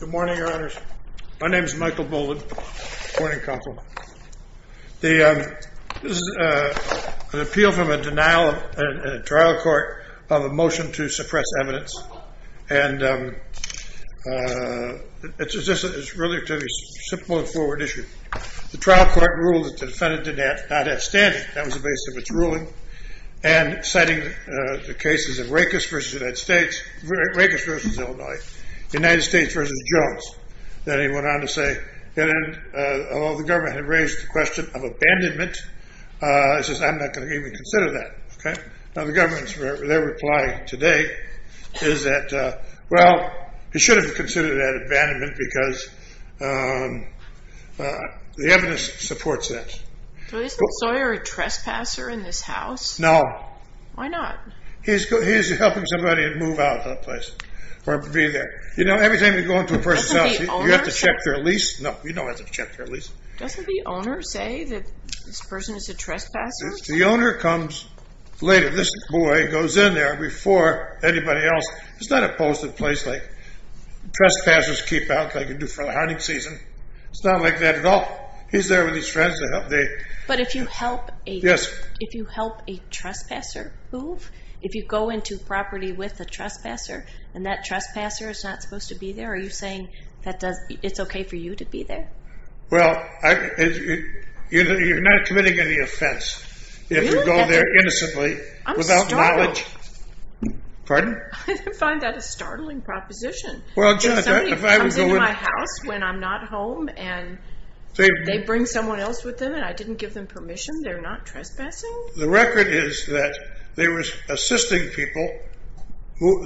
Good morning, your honors. My name is Michael Boland, morning counsel. An appeal from a denial in a trial court of a motion to suppress evidence. And it's a relatively simple and forward issue. The trial court ruled that the defendant did not have standing. That was the basis of its ruling. And citing the cases of Rakes v. Illinois, United States v. Jones. Then he went on to say, although the government had raised the question of abandonment, I'm not going to even consider that. Now the government's reply today is that, well, he should have considered that abandonment, because the evidence supports that. So isn't Sawyer a trespasser in this house? No. Why not? He's helping somebody move out of the place or be there. You know, every time you go into a person's house, you have to check their lease. No, you don't have to check their lease. Doesn't the owner say that this person is a trespasser? The owner comes later. This boy goes in there before anybody else. It's not a posted place like trespassers keep out, like they do for the hunting season. It's not like that at all. He's there with his friends to help. But if you help a trespasser move, if you go into property with a trespasser, and that trespasser is not supposed to be there, are you saying it's okay for you to be there? Well, you're not committing any offense if you go there innocently without knowledge. I'm startled. Pardon? I find that a startling proposition. If somebody comes into my house when I'm not home and they bring someone else with them and I didn't give them permission, they're not trespassing? The record is that they were assisting people,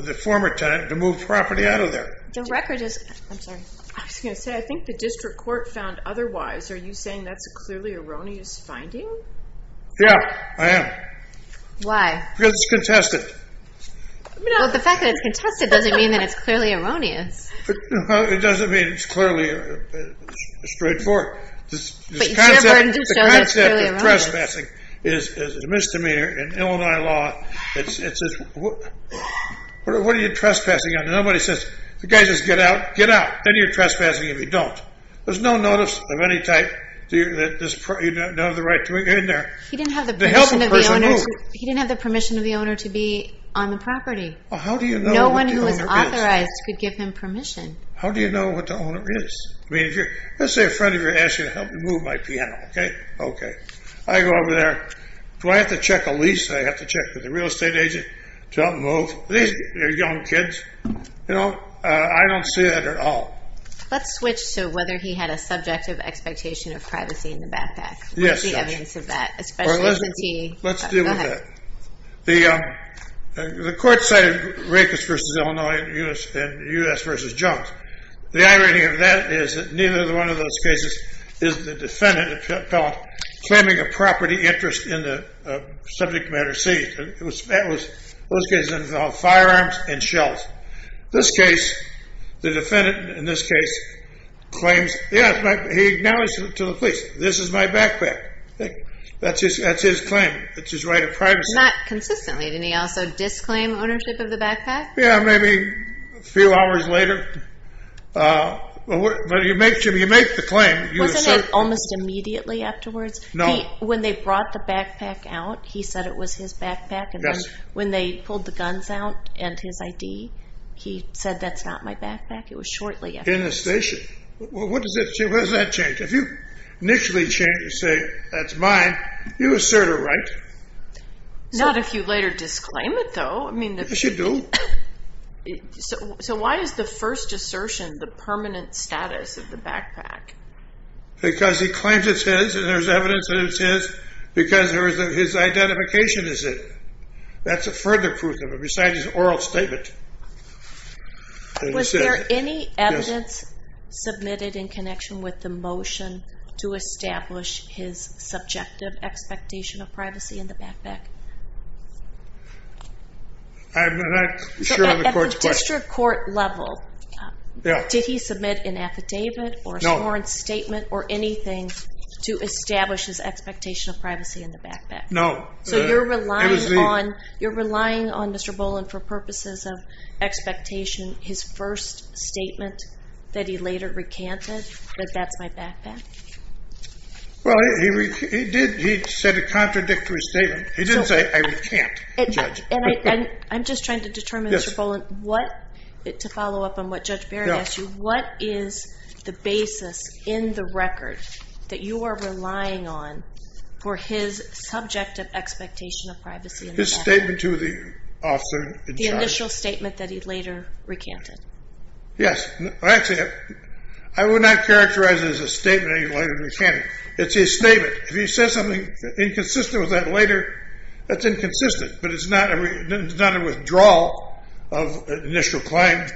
the former tenant, to move property out of there. I was going to say, I think the district court found otherwise. Are you saying that's a clearly erroneous finding? Yeah, I am. Why? Because it's contested. Well, the fact that it's contested doesn't mean that it's clearly erroneous. It doesn't mean it's clearly straightforward. The concept of trespassing is a misdemeanor in Illinois law. What are you trespassing on? Nobody says, the guy says, get out, get out. Then you're trespassing if you don't. There's no notice of any type. You don't have the right to get in there to help a person move. He didn't have the permission of the owner to be on the property. How do you know what the owner is? No one who was authorized could give him permission. How do you know what the owner is? Let's say a friend of yours asks you to help him move my piano. I go over there. Do I have to check a lease? Do I have to check with the real estate agent to help him move? These are young kids. I don't see that at all. Let's switch to whether he had a subjective expectation of privacy in the backpack. What's the evidence of that? Let's deal with that. The court cited Rakers v. Illinois and U.S. v. Jones. The irony of that is that neither one of those cases is the defendant claiming a property interest in the subject matter seized. Those cases involve firearms and shells. This case, the defendant in this case claims, yeah, he acknowledged to the police, this is my backpack. That's his claim. It's his right of privacy. Not consistently. Didn't he also disclaim ownership of the backpack? Yeah, maybe a few hours later. But you make the claim. Wasn't it almost immediately afterwards? No. When they brought the backpack out, he said it was his backpack. Yes. When they pulled the guns out and his ID, he said that's not my backpack. It was shortly after. In the station. What does that change? If you initially say that's mine, you assert a right. Not if you later disclaim it, though. Yes, you do. So why is the first assertion the permanent status of the backpack? Because he claims it's his and there's evidence that it's his because his identification is it. That's a further proof of it besides his oral statement. Was there any evidence submitted in connection with the motion to establish his subjective expectation of privacy in the backpack? I'm not sure on the court's question. At the district court level, did he submit an affidavit or sworn statement or anything to establish his expectation of privacy in the backpack? No. So you're relying on Mr. Boland for purposes of expectation, his first statement that he later recanted that that's my backpack? Well, he did. He said a contradictory statement. He didn't say I recant, Judge. I'm just trying to determine, Mr. Boland, to follow up on what Judge Barrett asked you, what is the basis in the record that you are relying on for his subjective expectation of privacy in the backpack? His statement to the officer in charge. The initial statement that he later recanted. Yes. Actually, I would not characterize it as a statement that he later recanted. It's his statement. If he says something inconsistent with that later, that's inconsistent. But it's not a withdrawal of initial claim.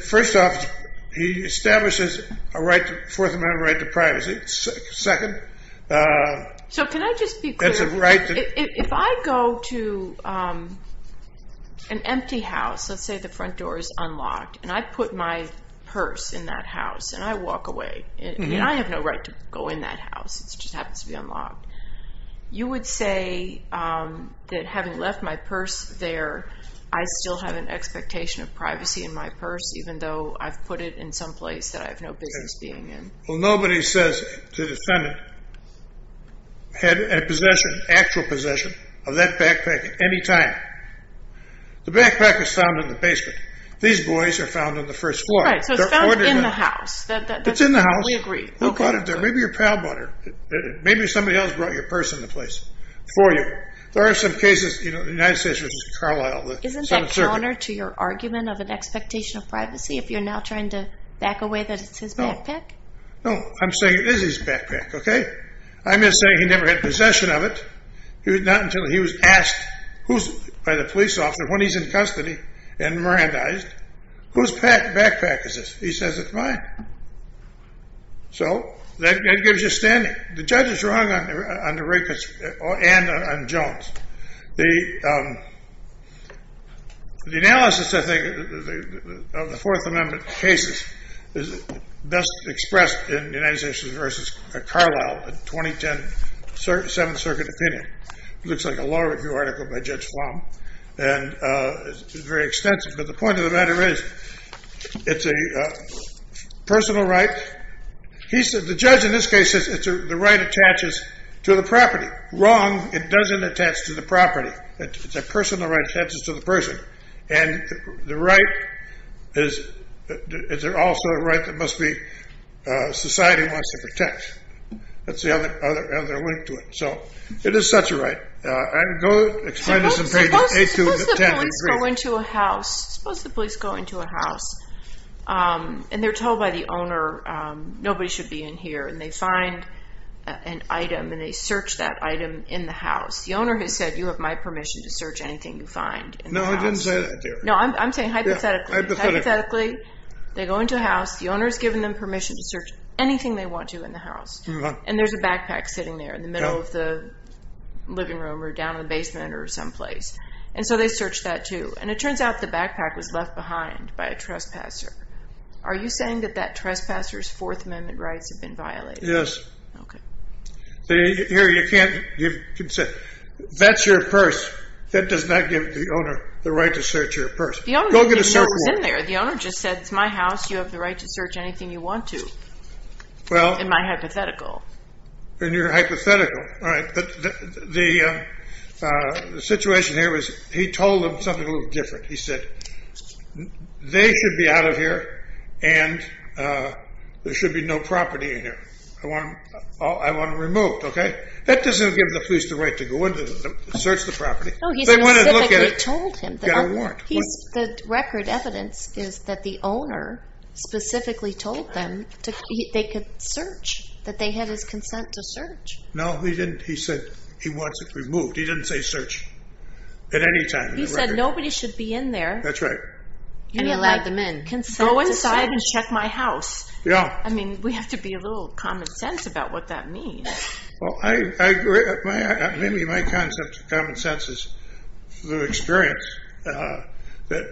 First off, he establishes a Fourth Amendment right to privacy. Second. So can I just be clear? If I go to an empty house, let's say the front door is unlocked, and I put my purse in that house and I walk away, and I have no right to go in that house. It just happens to be unlocked. You would say that having left my purse there, I still have an expectation of privacy in my purse, even though I've put it in some place that I have no business being in? Well, nobody says to the defendant, had an actual possession of that backpack at any time. The backpack is found in the basement. These boys are found on the first floor. Right. So it's found in the house. It's in the house. We agree. Who brought it there? Maybe your pal brought it. Maybe somebody else brought your purse into place for you. There are some cases, you know, the United States versus Carlisle. Isn't that counter to your argument of an expectation of privacy if you're now trying to back away that it's his backpack? No. No. I'm saying it is his backpack, okay? I'm just saying he never had possession of it. Not until he was asked by the police officer when he's in custody and Mirandized, whose backpack is this? He says it's mine. So that gives you standing. The judge is wrong on DeRicka's and on Jones'. The analysis, I think, of the Fourth Amendment cases is best expressed in the United States versus Carlisle, the 2010 Seventh Circuit opinion. It looks like a law review article by Judge Flom. It's very extensive. But the point of the matter is it's a personal right. The judge in this case says the right attaches to the property. Wrong. It doesn't attach to the property. It's a personal right that attaches to the person. And the right is also a right that society wants to protect. That's the other link to it. So it is such a right. Suppose the police go into a house, and they're told by the owner nobody should be in here, and they find an item and they search that item in the house. The owner has said, you have my permission to search anything you find in the house. No, I didn't say that, DeRicka. No, I'm saying hypothetically. Hypothetically, they go into a house. The owner has given them permission to search anything they want to in the house. And there's a backpack sitting there in the middle of the living room or down in the basement or someplace. And so they search that, too. And it turns out the backpack was left behind by a trespasser. Are you saying that that trespasser's Fourth Amendment rights have been violated? Yes. Okay. Here, you can't give consent. That's your purse. That does not give the owner the right to search your purse. Go get a search warrant. The owner's in there. The owner just said, it's my house. You have the right to search anything you want to. In my hypothetical. In your hypothetical. All right. The situation here was he told them something a little different. He said, they should be out of here, and there should be no property in here. I want them removed, okay? That doesn't give the police the right to go in and search the property. No, he specifically told him. Go get a warrant. The record evidence is that the owner specifically told them they could search, that they had his consent to search. No, he didn't. He said he wants it removed. He didn't say search at any time in the record. He said nobody should be in there. That's right. And he allowed them in. Go inside and check my house. Yeah. I mean, we have to be a little common sense about what that means. Well, I agree. Maybe my common sense is the experience that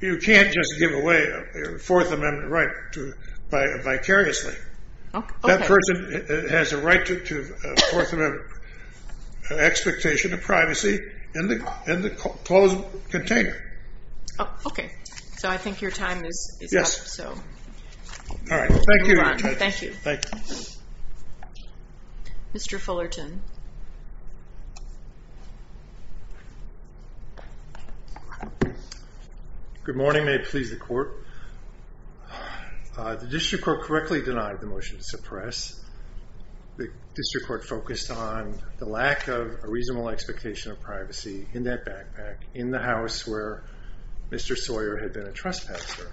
you can't just give away a Fourth Amendment right vicariously. That person has a right to Fourth Amendment expectation of privacy in the closed container. Okay. So I think your time is up. Yes. All right. Thank you. Thank you. Thank you. Mr. Fullerton. Good morning. May it please the Court. The district court correctly denied the motion to suppress. The district court focused on the lack of a reasonable expectation of privacy in that backpack, in the house where Mr. Sawyer had been a trespasser.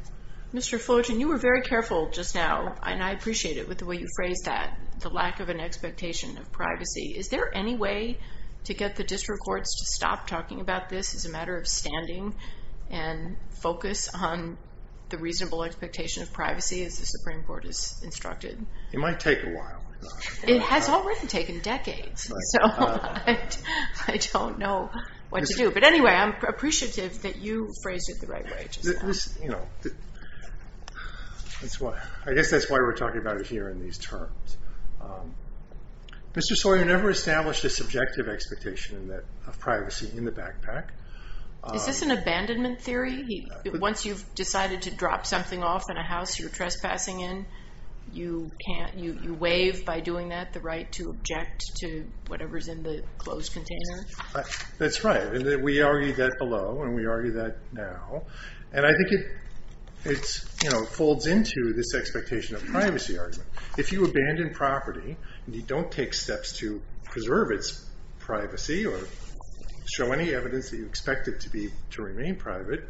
Mr. Fullerton, you were very careful just now, and I appreciate it with the way you phrased that, the lack of an expectation of privacy. Is there any way to get the district courts to stop talking about this as a matter of standing and focus on the reasonable expectation of privacy as the Supreme Court has instructed? It might take a while. It has already taken decades. So I don't know what to do. But anyway, I'm appreciative that you phrased it the right way just now. I guess that's why we're talking about it here in these terms. Mr. Sawyer never established a subjective expectation of privacy in the backpack. Is this an abandonment theory? Once you've decided to drop something off in a house you're trespassing in, you waive by doing that the right to object to whatever's in the closed container? That's right. And we argued that below, and we argue that now. And I think it folds into this expectation of privacy argument. If you abandon property and you don't take steps to preserve its privacy or show any evidence that you expect it to remain private,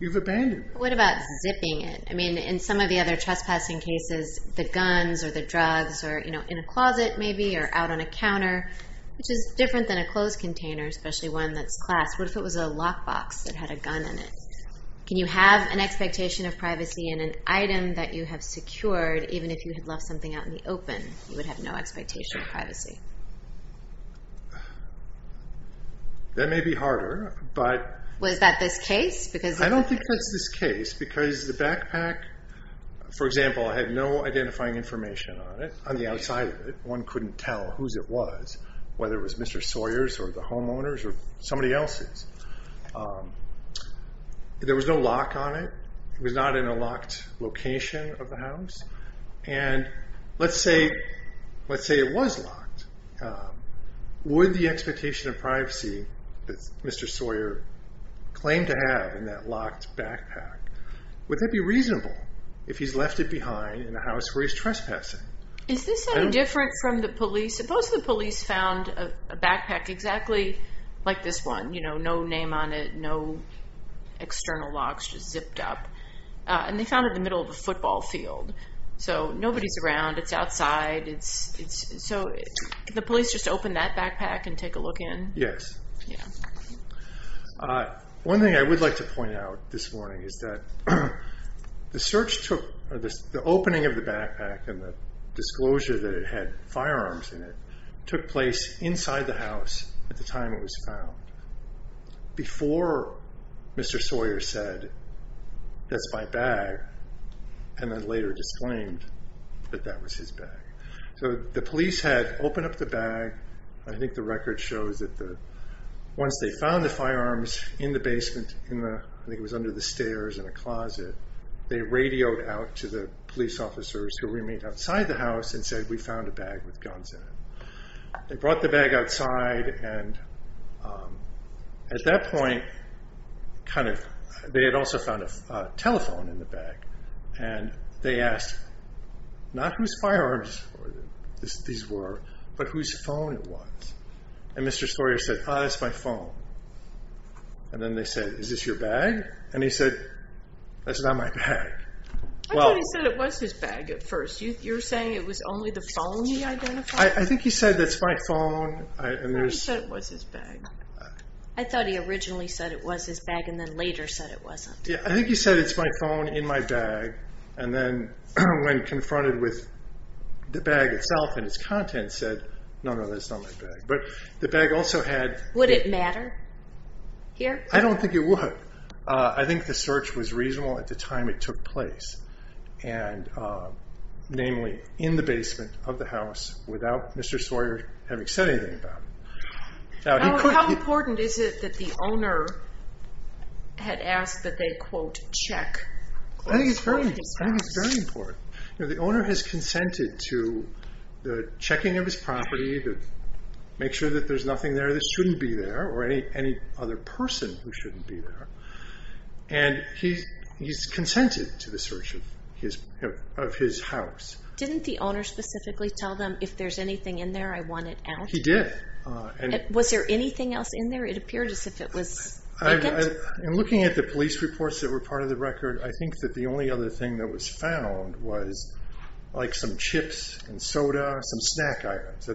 you've abandoned it. What about zipping it? I mean, in some of the other trespassing cases, the guns or the drugs are in a closet maybe or out on a counter, which is different than a closed container, especially one that's clasped. What if it was a lockbox that had a gun in it? Can you have an expectation of privacy in an item that you have secured even if you had left something out in the open? You would have no expectation of privacy. That may be harder. Was that this case? I don't think that's this case because the backpack, for example, had no identifying information on it. On the outside of it, one couldn't tell whose it was, whether it was Mr. Sawyer's or the homeowner's or somebody else's. There was no lock on it. It was not in a locked location of the house. And let's say it was locked. Would the expectation of privacy that Mr. Sawyer claimed to have in that locked backpack, would that be reasonable if he's left it behind in a house where he's trespassing? Is this any different from the police? Suppose the police found a backpack exactly like this one, no name on it, no external locks just zipped up, and they found it in the middle of a football field. Nobody's around. It's outside. Could the police just open that backpack and take a look in? Yes. One thing I would like to point out this morning is that the opening of the backpack and the disclosure that it had firearms in it took place inside the house at the time it was found before Mr. Sawyer said, that's my bag, and then later disclaimed that that was his bag. So the police had opened up the bag. I think the record shows that once they found the firearms in the basement, I think it was under the stairs in a closet, they radioed out to the police officers who remained outside the house and said, we found a bag with guns in it. They brought the bag outside, and at that point they had also found a telephone in the bag, and they asked not whose firearms these were, but whose phone it was, and Mr. Sawyer said, ah, it's my phone, and then they said, is this your bag? And he said, that's not my bag. I thought he said it was his bag at first. You're saying it was only the phone he identified? I think he said, that's my phone. I thought he said it was his bag. I thought he originally said it was his bag and then later said it wasn't. I think he said, it's my phone in my bag, and then when confronted with the bag itself and its contents, said, no, no, that's not my bag. Would it matter here? I don't think it would. I think the search was reasonable at the time it took place, namely in the basement of the house without Mr. Sawyer having said anything about it. How important is it that the owner had asked that they, quote, check? I think it's very important. The owner has consented to the checking of his property, to make sure that there's nothing there that shouldn't be there or any other person who shouldn't be there, and he's consented to the search of his house. Didn't the owner specifically tell them, if there's anything in there, I want it out? He did. Was there anything else in there? It appeared as if it was vacant. In looking at the police reports that were part of the record, I think that the only other thing that was found was like some chips and soda, some snack items.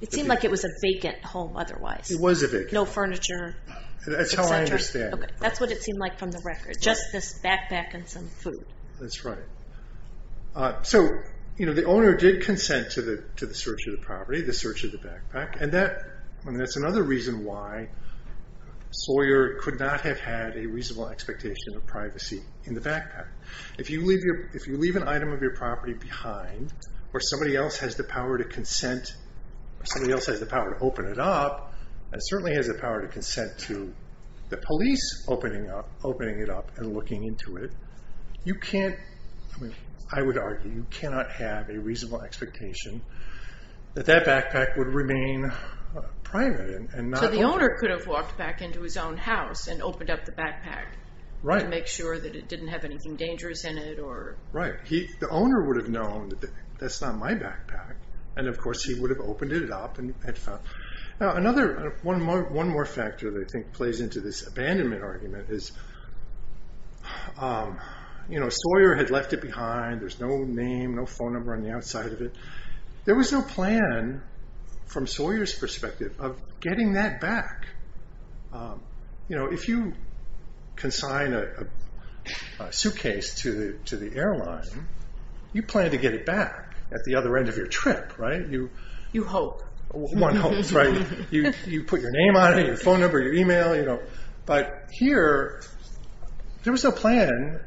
It seemed like it was a vacant home otherwise. It was a vacant home. No furniture, et cetera. That's how I understand it. That's what it seemed like from the record, just this backpack and some food. That's right. So the owner did consent to the search of the property, the search of the backpack, and that's another reason why Sawyer could not have had a reasonable expectation of privacy in the backpack. If you leave an item of your property behind, or somebody else has the power to consent, or somebody else has the power to open it up, and certainly has the power to consent to the police opening it up and looking into it, you can't, I would argue, you cannot have a reasonable expectation that that backpack would remain private and not open. So the owner could have walked back into his own house and opened up the backpack and make sure that it didn't have anything dangerous in it. Right. The owner would have known that that's not my backpack, and of course he would have opened it up and had found it. Now one more factor that I think plays into this abandonment argument is Sawyer had left it behind. There's no name, no phone number on the outside of it. There was no plan from Sawyer's perspective of getting that back. If you consign a suitcase to the airline, you plan to get it back at the other end of your trip, right? You hope. One hopes, right? You put your name on it, your phone number, your email. But here, there was no plan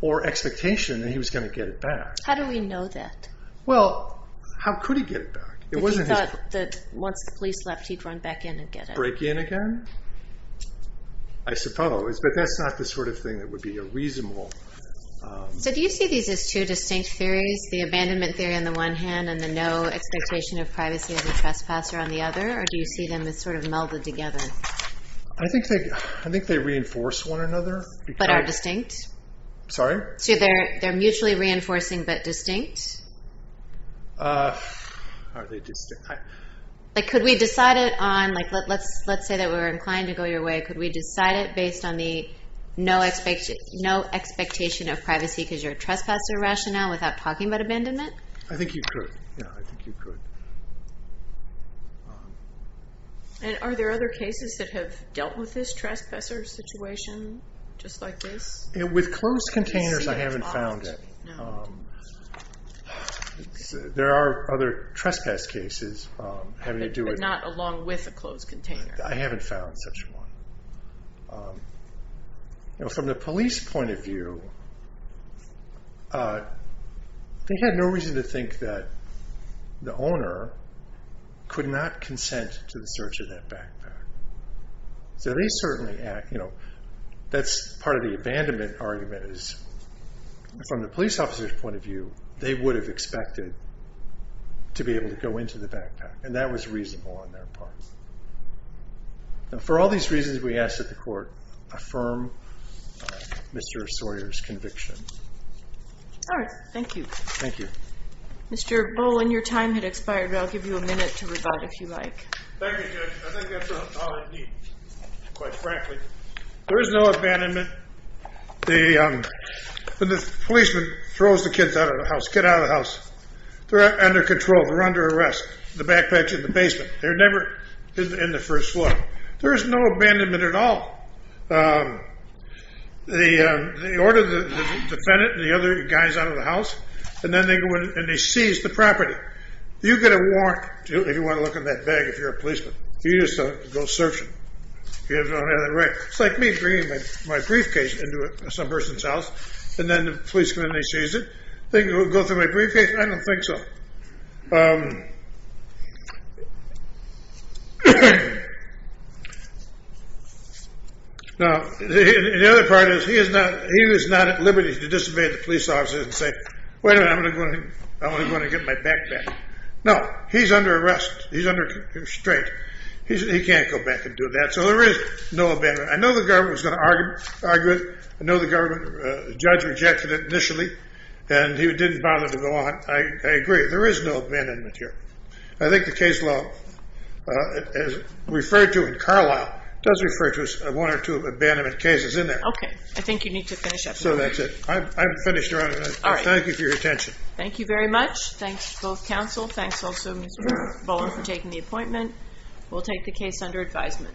or expectation that he was going to get it back. How do we know that? Well, how could he get it back? If he thought that once the police left, he'd run back in and get it. Would he break in again? I suppose. But that's not the sort of thing that would be reasonable. So do you see these as two distinct theories, the abandonment theory on the one hand and the no expectation of privacy as a trespasser on the other? Or do you see them as sort of melded together? I think they reinforce one another. But are distinct? Sorry? So they're mutually reinforcing but distinct? Are they distinct? Let's say that we're inclined to go your way. Could we decide it based on the no expectation of privacy because you're a trespasser rationale without talking about abandonment? I think you could. Are there other cases that have dealt with this trespasser situation just like this? With closed containers, I haven't found any. There are other trespass cases having to do with- But not along with a closed container. I haven't found such one. From the police point of view, they had no reason to think that the owner could not consent to the search of that backpack. So they certainly act- That's part of the abandonment argument is from the police officer's point of view, they would have expected to be able to go into the backpack. And that was reasonable on their part. For all these reasons, we ask that the court affirm Mr. Sawyer's conviction. All right. Thank you. Thank you. Mr. Bowling, your time had expired. I'll give you a minute to rebut if you like. Thank you, Judge. I think that's all I need, quite frankly. There is no abandonment. The policeman throws the kids out of the house. Get out of the house. They're under control. They're under arrest. The backpack's in the basement. They're never in the first floor. There is no abandonment at all. They order the defendant and the other guys out of the house, and then they go in and they seize the property. You get a warrant if you want to look in that bag if you're a policeman. You just go searching. It's like me bringing my briefcase into some person's house, and then the police come in and they seize it. Think it would go through my briefcase? I don't think so. Now, the other part is he is not at liberty to disobey the police officer and say, wait a minute, I'm going to get my backpack. No, he's under arrest. He's under constraint. He can't go back and do that. So there is no abandonment. I know the government was going to argue it. I know the government judge rejected it initially, and he didn't bother to go on. I agree. There is no abandonment here. I think the case law is referred to in Carlisle, does refer to one or two abandonment cases in there. Okay. I think you need to finish up. So that's it. I'm finished, Your Honor. All right. Thank you for your attention. Thank you very much. Thanks to both counsel. Thanks also, Mr. Bowen, for taking the appointment. We'll take the case under advisement.